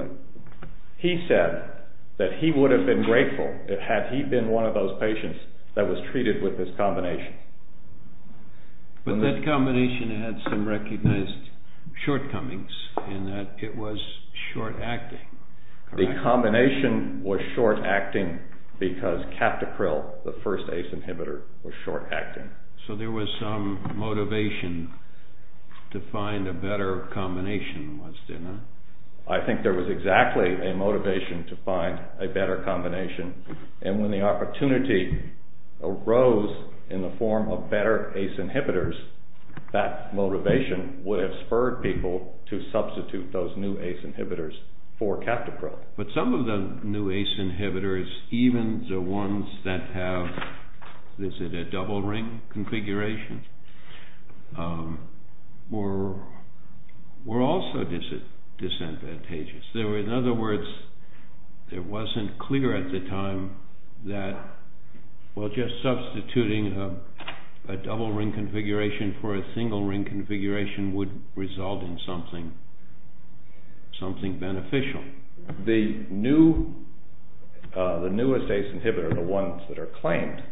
12-14-89 SANOFI-AVENTIS v. GLENMARK PHARMACEUTICALS SANOFI-AVENTIS v. GLENMARK PHARMACEUTICALS SANOFI-AVENTIS v. GLENMARK PHARMACEUTICALS SANOFI-AVENTIS v. GLENMARK PHARMACEUTICALS SANOFI-AVENTIS v. GLENMARK PHARMACEUTICALS SANOFI-AVENTIS v. GLENMARK PHARMACEUTICALS SANOFI-AVENTIS v. GLENMARK PHARMACEUTICALS SANOFI-AVENTIS v. GLENMARK PHARMACEUTICALS SANOFI-AVENTIS v. GLENMARK PHARMACEUTICALS Well, just substituting a double-ring configuration for a single-ring configuration would result in something beneficial. The newest ACE inhibitor, the ones that are claimed,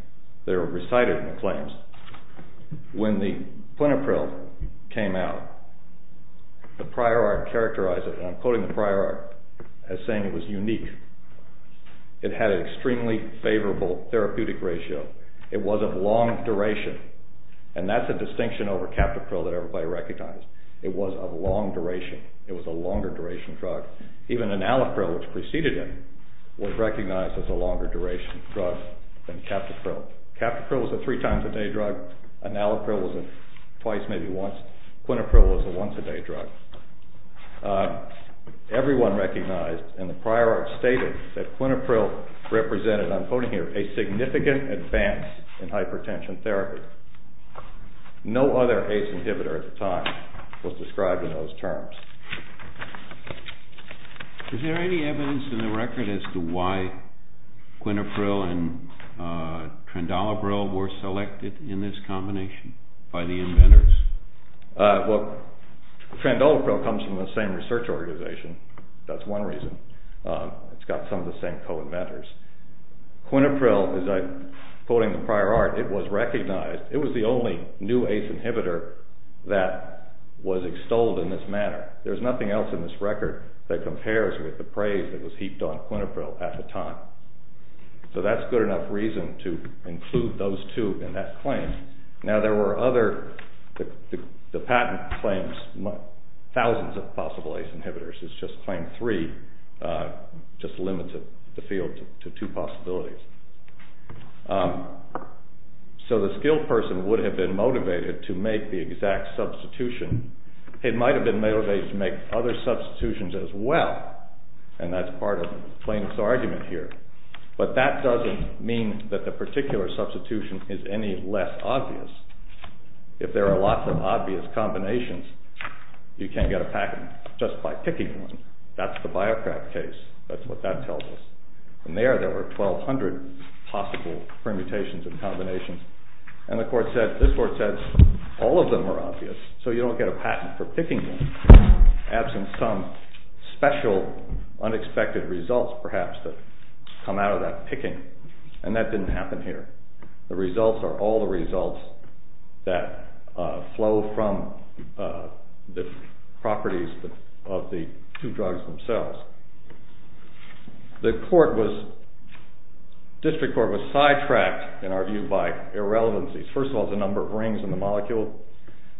that are recited in the claims, when the plenipryl came out, the prior art characterized it, and I'm quoting the prior art as saying it was unique. It had an extremely favorable therapeutic ratio. It was of long duration, and that's a distinction over captopril that everybody recognized. It was of long duration. It was a longer-duration drug. Even enalapril, which preceded it, was recognized as a longer-duration drug than captopril. Captopril was a three-times-a-day drug. Enalapril was a twice, maybe once. Quintapril was a once-a-day drug. Everyone recognized, and the prior art stated, that quintapril represented, I'm quoting here, a significant advance in hypertension therapy. No other ACE inhibitor at the time was described in those terms. Is there any evidence in the record as to why quintapril and trendolabril were selected in this combination by the inventors? Well, trendolabril comes from the same research organization. That's one reason. It's got some of the same co-inventors. Quintapril, as I'm quoting the prior art, it was recognized. It was the only new ACE inhibitor that was extolled in this manner. There's nothing else in this record that compares with the praise that was heaped on quintapril at the time. So that's good enough reason to include those two in that claim. Now, there were other... The patent claims thousands of possible ACE inhibitors. It's just claim three just limited the field to two possibilities. So the skilled person would have been motivated to make the exact substitution. It might have been motivated to make other substitutions as well, and that's part of the plaintiff's argument here. But that doesn't mean that the particular substitution is any less obvious. If there are lots of obvious combinations, you can't get a patent just by picking one. That's the Biocraft case. That's what that tells us. And there, there were 1,200 possible permutations and combinations. And the court said, this court said, all of them are obvious, so you don't get a patent for picking them, absent some special unexpected results perhaps that come out of that picking. And that didn't happen here. The results are all the results that flow from the properties of the two drugs themselves. The court was... District court was sidetracked, in our view, by irrelevancies. First of all, the number of rings in the molecule.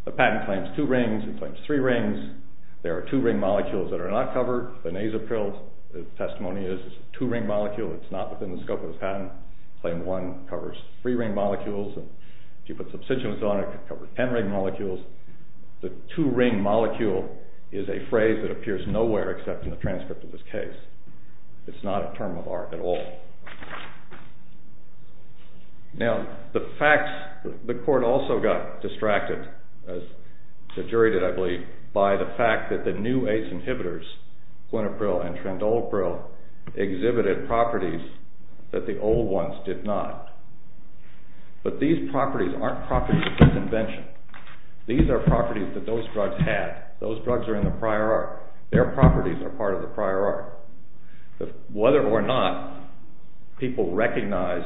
The patent claims two rings. It claims three rings. There are two-ring molecules that are not covered. The Nasopril testimony is a two-ring molecule. It's not within the scope of the patent. Claim one covers three-ring molecules. If you put substituents on it, it covers ten-ring molecules. The two-ring molecule is a phrase that appears nowhere except in the transcript of this case. It's not a term of art at all. Now, the facts... The court also got distracted, as the jury did, I believe, by the fact that the new ACE inhibitors, quinopril and trandolpril, exhibited properties that the old ones did not. But these properties aren't properties of convention. These are properties that those drugs have. Those drugs are in the prior art. Their properties are part of the prior art. Whether or not people recognize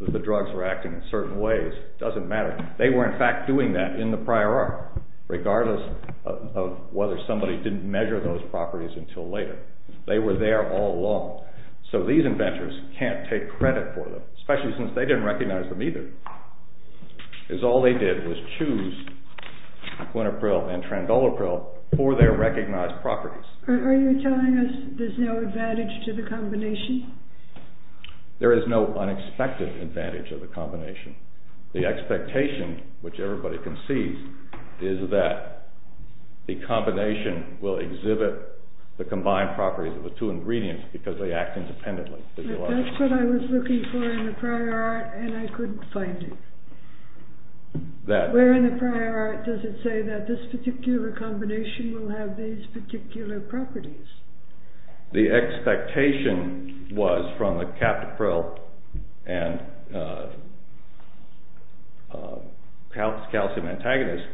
that the drugs were acting in certain ways doesn't matter. They were, in fact, doing that in the prior art, regardless of whether somebody didn't measure those properties until later. They were there all along. So these inventors can't take credit for them, especially since they didn't recognize them either. Because all they did was choose quinopril and trandolpril for their recognized properties. Are you telling us there's no advantage to the combination? There is no unexpected advantage to the combination. The expectation, which everybody can see, is that the combination will exhibit the combined properties of the two ingredients because they act independently. That's what I was looking for in the prior art, and I couldn't find it. Where in the prior art does it say that this particular combination will have these particular properties? The expectation was from the captopril and calcium antagonist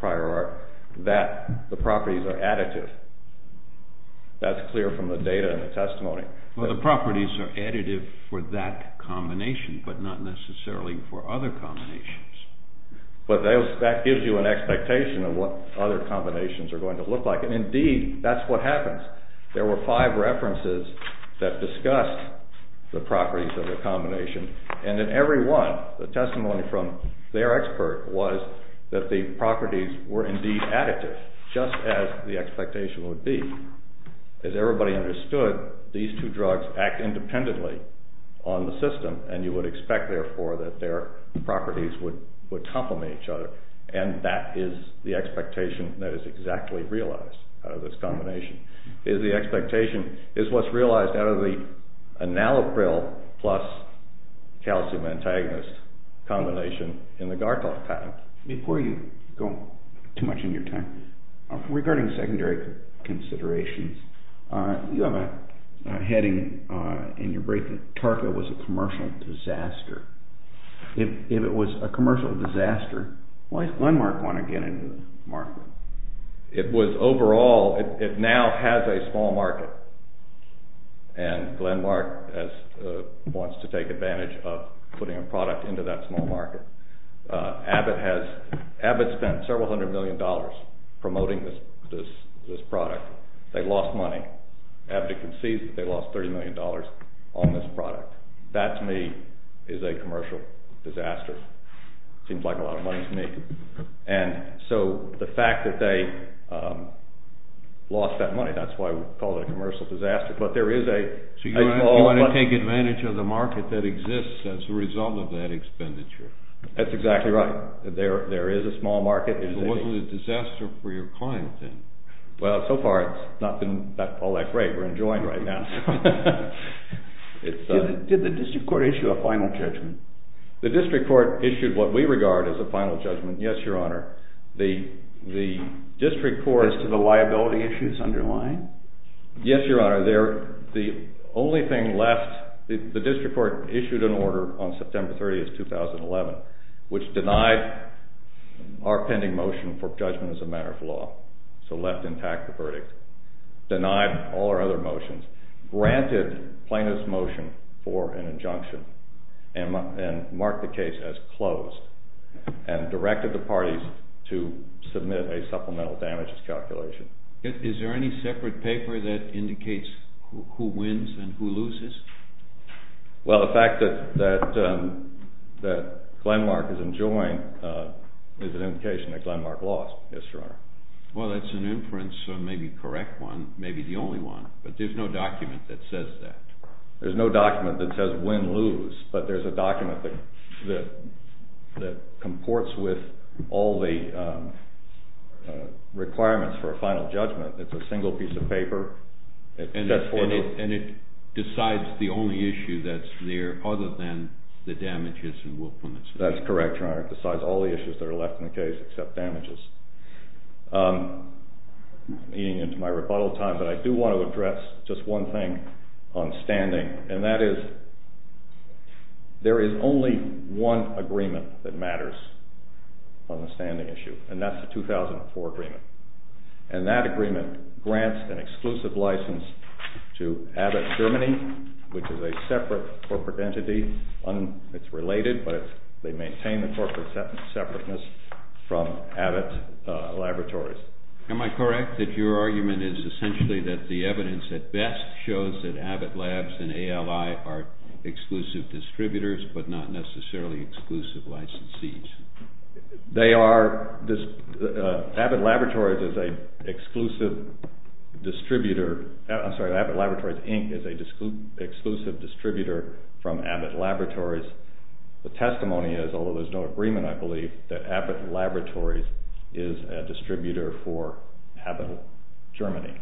prior art that the properties are additive. That's clear from the data and the testimony. Well, the properties are additive for that combination, but not necessarily for other combinations. But that gives you an expectation of what other combinations are going to look like. Indeed, that's what happens. There were five references that discussed the properties of the combination, and in every one, the testimony from their expert was that the properties were indeed additive, just as the expectation would be. As everybody understood, these two drugs act independently on the system, and you would expect, therefore, that their properties would complement each other. And that is the expectation that is exactly realized out of this combination. The expectation is what's realized out of the analopril plus calcium antagonist combination in the Garkov pattern. Before you go too much in your time, regarding secondary considerations, you have a heading in your break that Tarka was a commercial disaster. If it was a commercial disaster, why does Glenmark want to get into the market? It was overall, it now has a small market, and Glenmark wants to take advantage of putting a product into that small market. Abbott spent several hundred million dollars promoting this product. They lost money. Abbott concedes that they lost $30 million on this product. That, to me, is a commercial disaster. It seems like a lot of money to me. And so the fact that they lost that money, that's why we call it a commercial disaster. But there is a small market. So you want to take advantage of the market that exists as a result of that expenditure. That's exactly right. There is a small market. It wasn't a disaster for your client, then. Well, so far it's not been all that great. We're enjoying it right now. Did the district court issue a final judgment? The district court issued what we regard as a final judgment, yes, Your Honor. As to the liability issues underlying? Yes, Your Honor. The only thing left, the district court issued an order on September 30th, 2011, which denied our pending motion for judgment as a matter of law. So left intact the verdict. Denied all our other motions. Granted plaintiff's motion for an injunction. And marked the case as closed. And directed the parties to submit a supplemental damages calculation. Is there any separate paper that indicates who wins and who loses? Well, the fact that Glenmark is enjoined is an indication that Glenmark lost, yes, Your Honor. Well, that's an inference, maybe a correct one, maybe the only one. But there's no document that says that. There's no document that says win-lose. But there's a document that comports with all the requirements for a final judgment. It's a single piece of paper. And it decides the only issue that's there other than the damages and willfulness. That's correct, Your Honor. It decides all the issues that are left in the case except damages. Leading into my rebuttal time, but I do want to address just one thing on standing, and that is there is only one agreement that matters on the standing issue, and that's the 2004 agreement. And that agreement grants an exclusive license to Abbott Germany, which is a separate corporate entity. It's related, but they maintain the corporate separateness from Abbott Laboratories. Am I correct that your argument is essentially that the evidence at best shows that Abbott Labs and ALI are exclusive distributors but not necessarily exclusive licensees? They are. Abbott Laboratories is an exclusive distributor. I'm sorry, Abbott Laboratories Inc. is an exclusive distributor from Abbott Laboratories. The testimony is, although there's no agreement, I believe, that Abbott Laboratories is a distributor for Abbott Germany.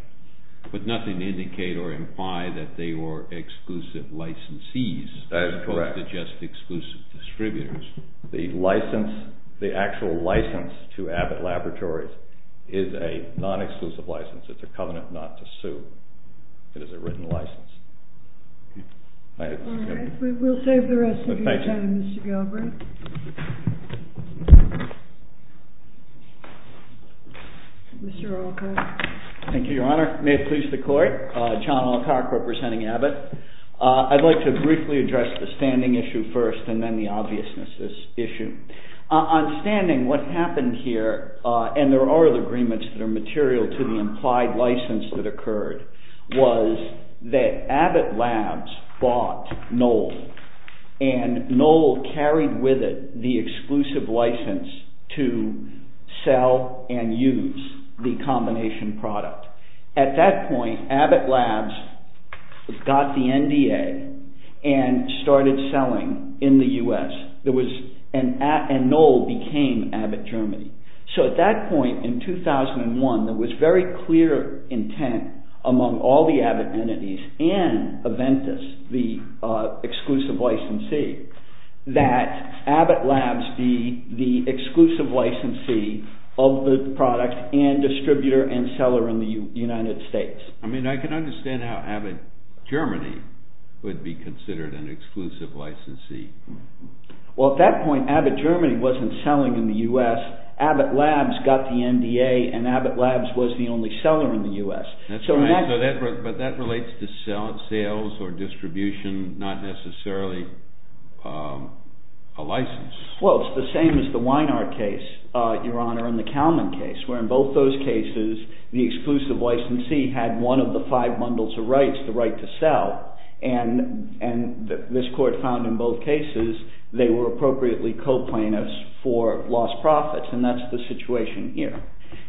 But nothing to indicate or imply that they were exclusive licensees. That is correct. They're just exclusive distributors. The license, the actual license to Abbott Laboratories is a non-exclusive license. It's a covenant not to sue. It is a written license. All right. We will save the rest of your time, Mr. Galbraith. Mr. Alcock. Thank you, Your Honor. May it please the Court. John Alcock representing Abbott. I'd like to briefly address the standing issue first and then the obviousness issue. On standing, what happened here, and there are other agreements that are material to the implied license that occurred, was that Abbott Labs bought Knoll, and Knoll carried with it the exclusive license to sell and use the combination product. At that point, Abbott Labs got the NDA and started selling in the U.S., and Knoll became Abbott Germany. So at that point in 2001, there was very clear intent among all the Abbott entities and Aventis, the exclusive licensee, that Abbott Labs be the exclusive licensee of the product and distributor and seller in the United States. I mean, I can understand how Abbott Germany would be considered an exclusive licensee. Well, at that point, Abbott Germany wasn't selling in the U.S. Abbott Labs got the NDA, and Abbott Labs was the only seller in the U.S. But that relates to sales or distribution, not necessarily a license. Well, it's the same as the Weinar case, Your Honor, and the Kalman case, where in both those cases, the exclusive licensee had one of the five bundles of rights, the right to sell, and this court found in both cases they were appropriately co-plaintiffs for lost profits, and that's the situation here.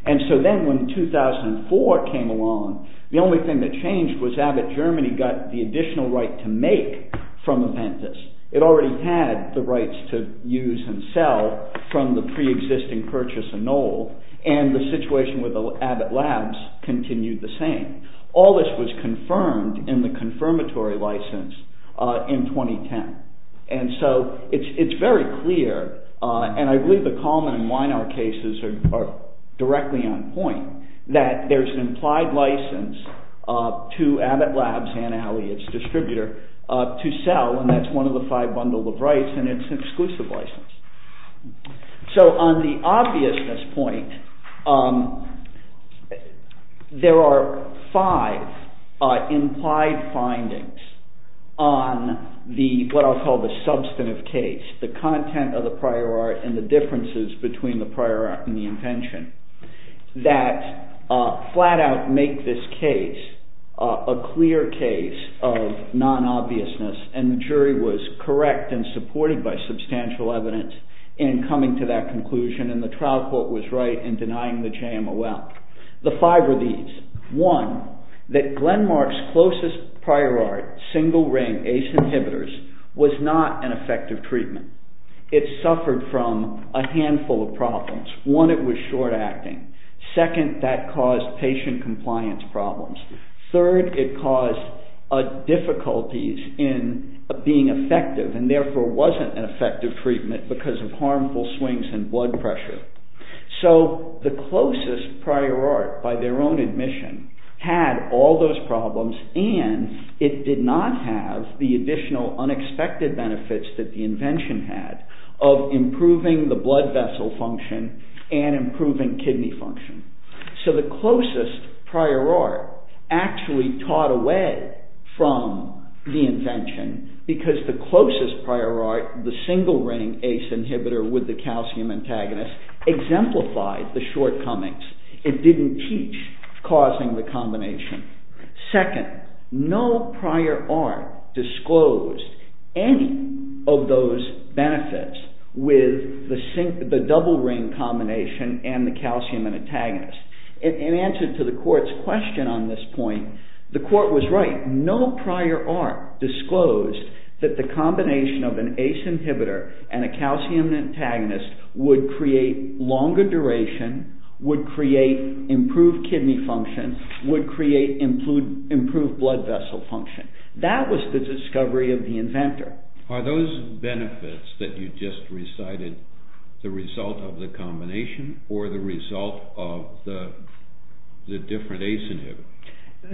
And so then when 2004 came along, the only thing that changed was Abbott Germany got the additional right to make from Aventis. It already had the rights to use and sell from the pre-existing purchase of Knoll, and the situation with Abbott Labs continued the same. All this was confirmed in the confirmatory license in 2010. And so it's very clear, and I believe the Kalman and Weinar cases are directly on point, that there's an implied license to Abbott Labs, Ann Alley, its distributor, to sell, and that's one of the five bundles of rights, and it's an exclusive license. So on the obviousness point, there are five implied findings on what I'll call the substantive case, the content of the prior art and the differences between the prior art and the invention, that flat out make this case a clear case of non-obviousness, and the jury was correct and supported by substantial evidence in coming to that conclusion, and the trial court was right in denying the JMOL. The five are these. One, that Glenmark's closest prior art, single-ring ACE inhibitors, was not an effective treatment. It suffered from a handful of problems. One, it was short-acting. Second, that caused patient compliance problems. Third, it caused difficulties in being effective, and therefore wasn't an effective treatment because of harmful swings in blood pressure. So the closest prior art, by their own admission, had all those problems, and it did not have the additional unexpected benefits that the invention had of improving the blood vessel function and improving kidney function. So the closest prior art actually taught away from the invention because the closest prior art, the single-ring ACE inhibitor with the calcium antagonist, exemplified the shortcomings. It didn't teach causing the combination. Second, no prior art disclosed any of those benefits with the double-ring combination and the calcium antagonist. In answer to the court's question on this point, the court was right. No prior art disclosed that the combination of an ACE inhibitor and a calcium antagonist would create longer duration, would create improved kidney function, would create improved blood vessel function. That was the discovery of the inventor. Are those benefits that you just recited the result of the combination or the result of the different ACE inhibitor?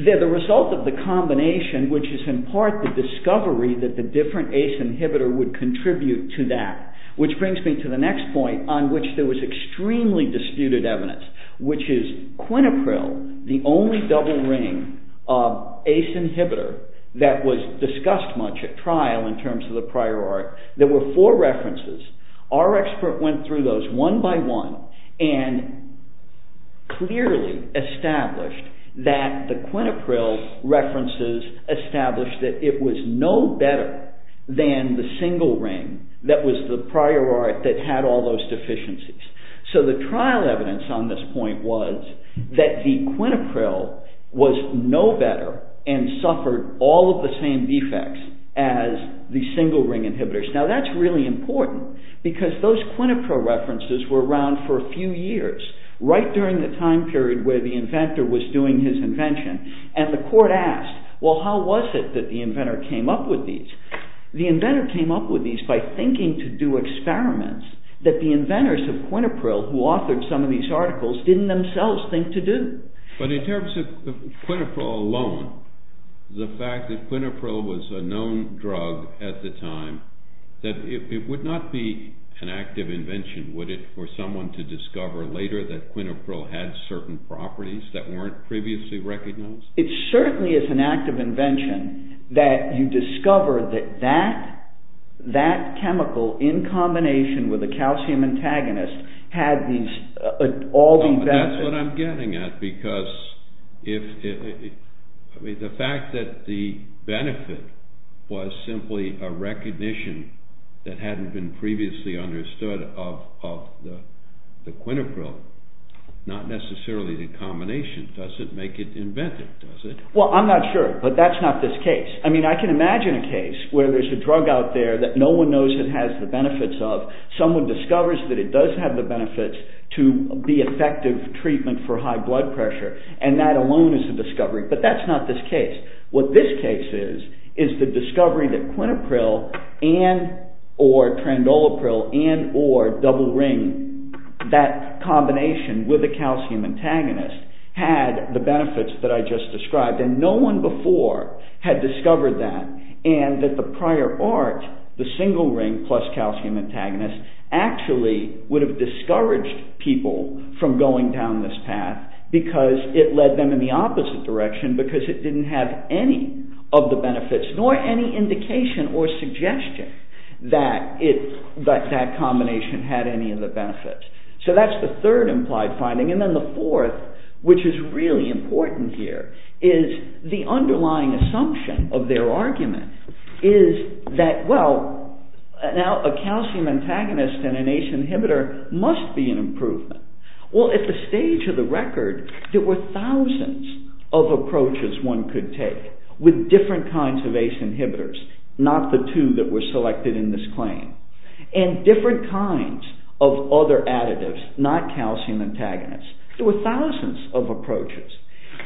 They're the result of the combination, which is in part the discovery that the different ACE inhibitor would contribute to that, which brings me to the next point on which there was extremely disputed evidence, which is quinopril, the only double-ring ACE inhibitor that was discussed much at trial in terms of the prior art. There were four references. Our expert went through those one by one and clearly established that the quinopril references established that it was no better than the single-ring that was the prior art that had all those deficiencies. So the trial evidence on this point was that the quinopril was no better and suffered all of the same defects as the single-ring inhibitors. Now that's really important because those quinopril references were around for a few years, right during the time period where the inventor was doing his invention. And the court asked, well, how was it that the inventor came up with these? The inventor came up with these by thinking to do experiments that the inventors of quinopril who authored some of these articles didn't themselves think to do. But in terms of quinopril alone, the fact that quinopril was a known drug at the time, that it would not be an active invention, would it, for someone to discover later that quinopril had certain properties that weren't previously recognized? It certainly is an active invention that you discover that that chemical in combination with a calcium antagonist had all these benefits. That's what I'm getting at because the fact that the benefit was simply a recognition that hadn't been previously understood of the quinopril, not necessarily the combination, doesn't make it inventive, does it? Well, I'm not sure, but that's not this case. I mean, I can imagine a case where there's a drug out there that no one knows it has the benefits of, someone discovers that it does have the benefits to be effective treatment for high blood pressure, and that alone is a discovery. But that's not this case. What this case is, is the discovery that quinopril and or trandolopril and or double ring, that combination with a calcium antagonist had the benefits that I just described, and no one before had discovered that, and that the prior art, the single ring plus calcium antagonist, actually would have discouraged people from going down this path because it led them in the opposite direction because it didn't have any of the benefits nor any indication or suggestion that that combination had any of the benefits. So that's the third implied finding. And then the fourth, which is really important here, is the underlying assumption of their argument is that, well, now a calcium antagonist and an ACE inhibitor must be an improvement. Well, at the stage of the record, there were thousands of approaches one could take with different kinds of ACE inhibitors, not the two that were selected in this claim, and different kinds of other additives, not calcium antagonists. There were thousands of approaches,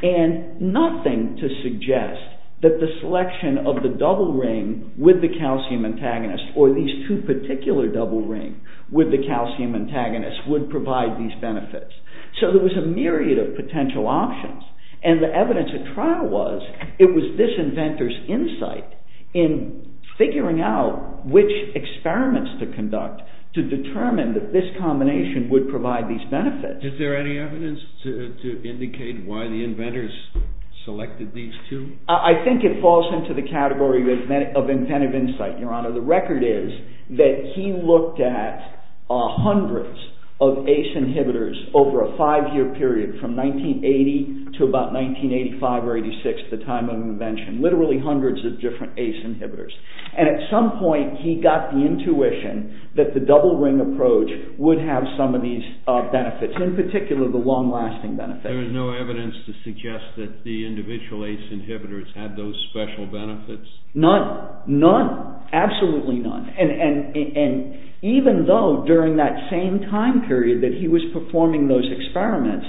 and nothing to suggest that the selection of the double ring with the calcium antagonist or these two particular double rings with the calcium antagonist would provide these benefits. So there was a myriad of potential options, and the evidence at trial was it was this inventor's insight in figuring out which experiments to conduct to determine that this combination would provide these benefits. Is there any evidence to indicate why the inventors selected these two? I think it falls into the category of inventive insight, Your Honor. The record is that he looked at hundreds of ACE inhibitors over a five-year period from 1980 to about 1985 or 86, the time of invention, literally hundreds of different ACE inhibitors. And at some point, he got the intuition that the double ring approach would have some of these benefits, in particular the long-lasting benefits. There is no evidence to suggest that the individual ACE inhibitors had those special benefits? None. Absolutely none. And even though, during that same time period that he was performing those experiments,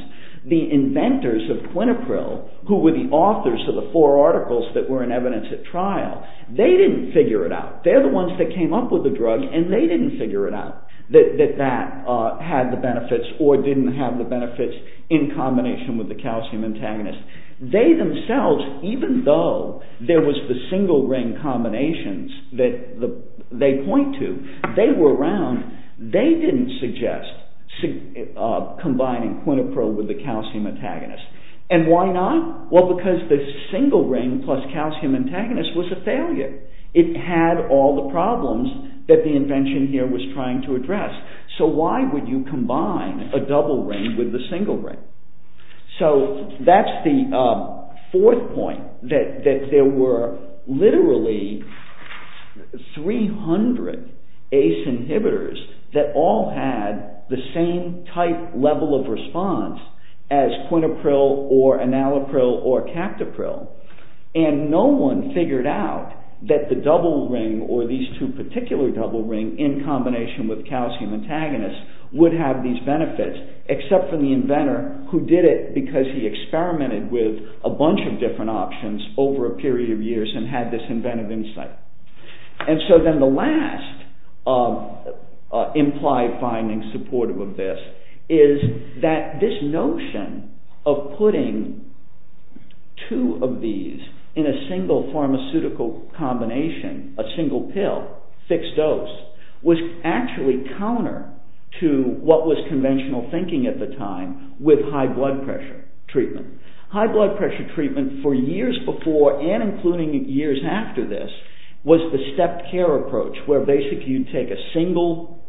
the inventors of Quinepril, who were the authors of the four articles that were in evidence at trial, they didn't figure it out. They're the ones that came up with the drug and they didn't figure it out that that had the benefits or didn't have the benefits in combination with the calcium antagonist. They themselves, even though there was the single ring combinations that they point to, they were around, they didn't suggest combining Quinepril with the calcium antagonist. And why not? Well, because the single ring plus calcium antagonist was a failure. It had all the problems that the invention here was trying to address. So, why would you combine a double ring with a single ring? So, that's the fourth point, that there were literally 300 ACE inhibitors that all had the same type level of response as Quinepril or Enalapril or Captopril. And no one figured out that the double ring or these two particular double ring in combination with calcium antagonist would have these benefits, except for the inventor who did it because he experimented with a bunch of different options over a period of years and had this inventive insight. And so then the last implied finding supportive of this is that this notion of putting two of these in a single pharmaceutical combination, a single pill, fixed dose, was actually counter to what was conventional thinking at the time with high blood pressure treatment. High blood pressure treatment for years before and including years after this was the stepped care approach where basically you take a single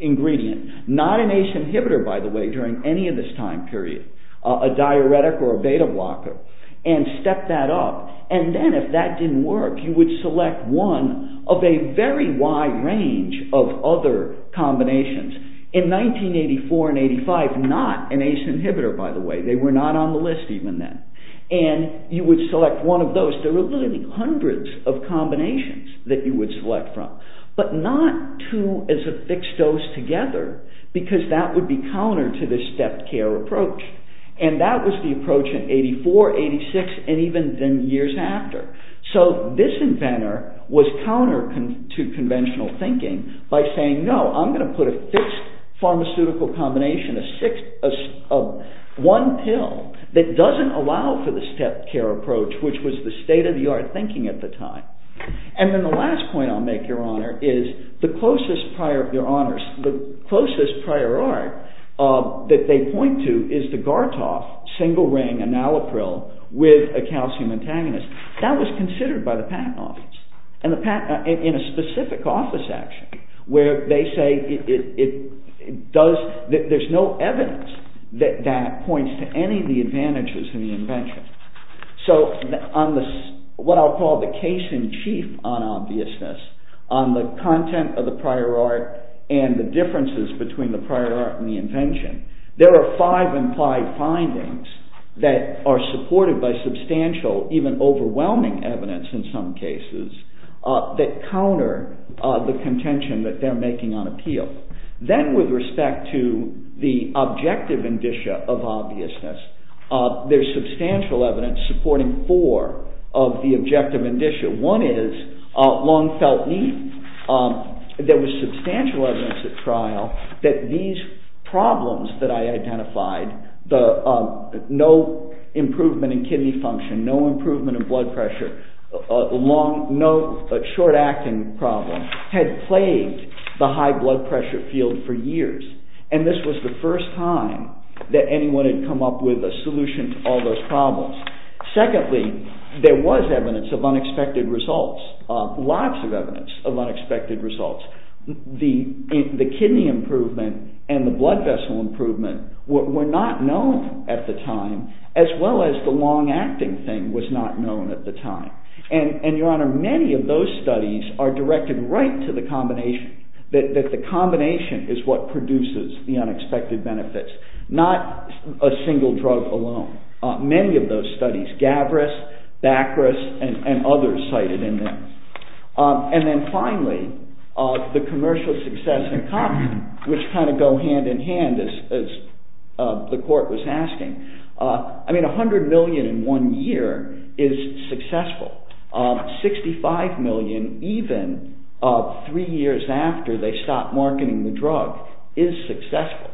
ingredient, not an ACE inhibitor, by the way, during any of this time period, a diuretic or a beta blocker, and step that up and then if that didn't work you would select one of a very wide range of other combinations. In 1984 and 1985, not an ACE inhibitor, by the way, they were not on the list even then. And you would select one of those. There were literally hundreds of combinations that you would select from, but not two as a fixed dose together because that would be counter to this stepped care approach. And that was the approach in 1984, 1986, and even years after. So this inventor was counter to conventional thinking by saying, no, I'm going to put a fixed pharmaceutical combination, one pill, that doesn't allow for the stepped care approach which was the state-of-the-art thinking at the time. And then the last point I'll make, Your Honor, is the closest prior art that they point to is the Gartoff single ring enalapril with a calcium antagonist. That was considered by the Patent Office in a specific office action where they say that there's no evidence that that points to any of the advantages of the invention. So on what I'll call the case in chief on obviousness, on the content of the prior art and the differences between the prior art and the invention, there are five implied findings that are supported by substantial, even overwhelming evidence in some cases that counter the contention that they're making on appeal. Then with respect to the objective indicia of obviousness, there's substantial evidence supporting four of the objective indicia. One is long felt need. There was substantial evidence at trial that these problems that I identified, no improvement in kidney function, no improvement in blood pressure, no short-acting problem, had plagued the high blood pressure field for years. And this was the first time that anyone had come up with a solution to all those problems. Secondly, there was evidence of unexpected results, lots of evidence of unexpected results. The kidney improvement and the blood vessel improvement were not known at the time as well as the long-acting thing was not known at the time. And your honor, many of those studies are directed right to the combination, that the combination is what produces the unexpected benefits, not a single drug alone. Many of those studies, Gavris, Bacris, and others cited in them. And then finally, the commercial success in common, which kind of go hand in hand as the court was asking. I mean, 100 million in one year is successful. 65 million even three years after they stopped marketing the drug is successful.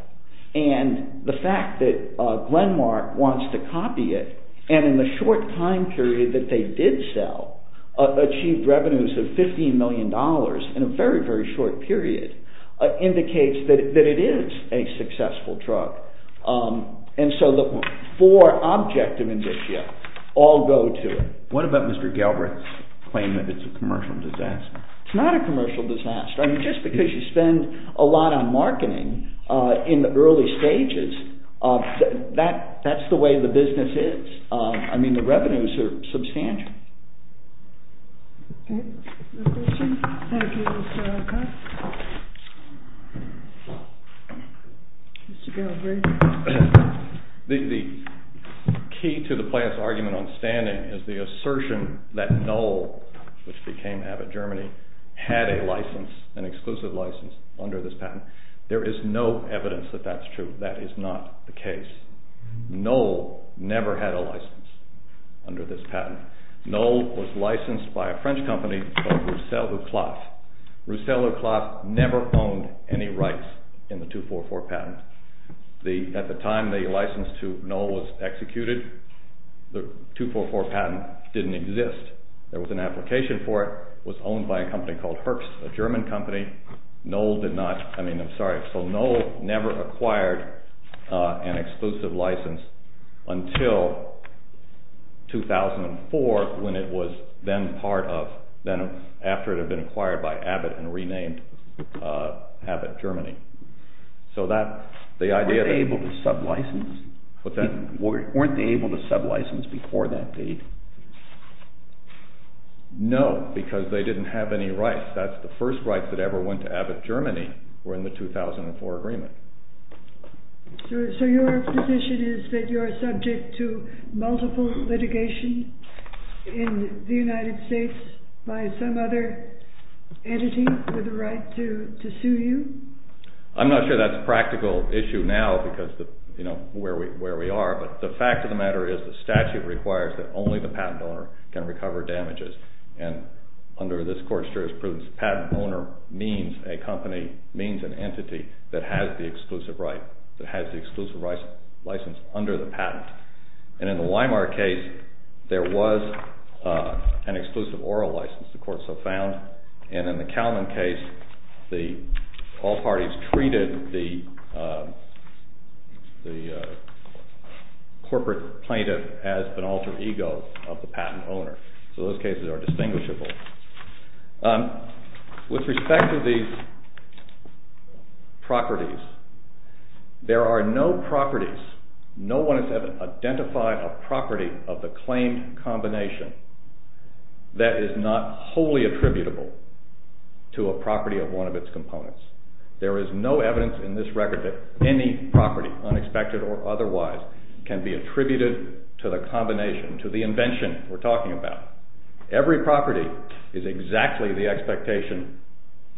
And the fact that Glenmark wants to copy it and in the short time period that they did sell achieved revenues of 15 million dollars in a very, very short period indicates that it is a successful drug. And so the four objective indicia all go to it. What about Mr. Galbraith's claim that it's a commercial disaster? It's not a commercial disaster. I mean, just because you spend a lot on marketing in the early stages, that's the way the business is. I mean, the revenues are substantial. The key to the plaintiff's argument on standing is the assertion that Knoll, which became Abbott Germany, had a license, an exclusive license, under this patent. There is no evidence that that's true. That is not the case. Knoll never had a license under this patent. Knoll was licensed by a French company called Roussel-le-Cloth. Roussel-le-Cloth never owned any rights in the 244 patent. At the time the license to Knoll was executed, the 244 patent didn't exist. There was an application for it. It was owned by a company called Hertz, a German company. Knoll did not, I mean, I'm sorry, so Knoll never acquired an exclusive license until 2004 when it was then part of, then after it had been acquired by Abbott and renamed Abbott Germany. So that, the idea... Weren't they able to sub-license before that date? No, because they didn't have any rights. That's the first rights that ever went to Abbott Germany were in the 2004 agreement. So your position is that you are subject to multiple litigation in the United States by some other entity with the right to sue you? I'm not sure that's a practical issue now because of where we are, but the fact of the matter is the statute requires that only the patent owner can recover damages. And under this court's jurisprudence, the patent owner means a company, means an entity that has the exclusive right, that has the exclusive license under the patent. And in the Weimar case, there was an exclusive oral license, the courts have found. And in the Kalman case, all parties treated the corporate plaintiff as an alter ego of the patent owner. So those cases are distinguishable. With respect to these properties, there are no properties, no one has ever identified a property of the claimed combination that is not wholly attributable to a property of one of its components. There is no evidence in this record that any property, unexpected or otherwise, can be attributed to the combination, to the invention we're talking about. Every property is exactly the expectation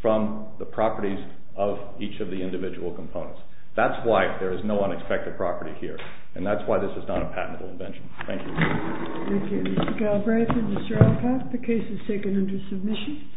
from the properties of each of the individual components. That's why there is no unexpected property here, and that's why this is not a patentable invention. Thank you. Thank you, Mr. Galbraith and Mr. Alcock. The case is taken under submission.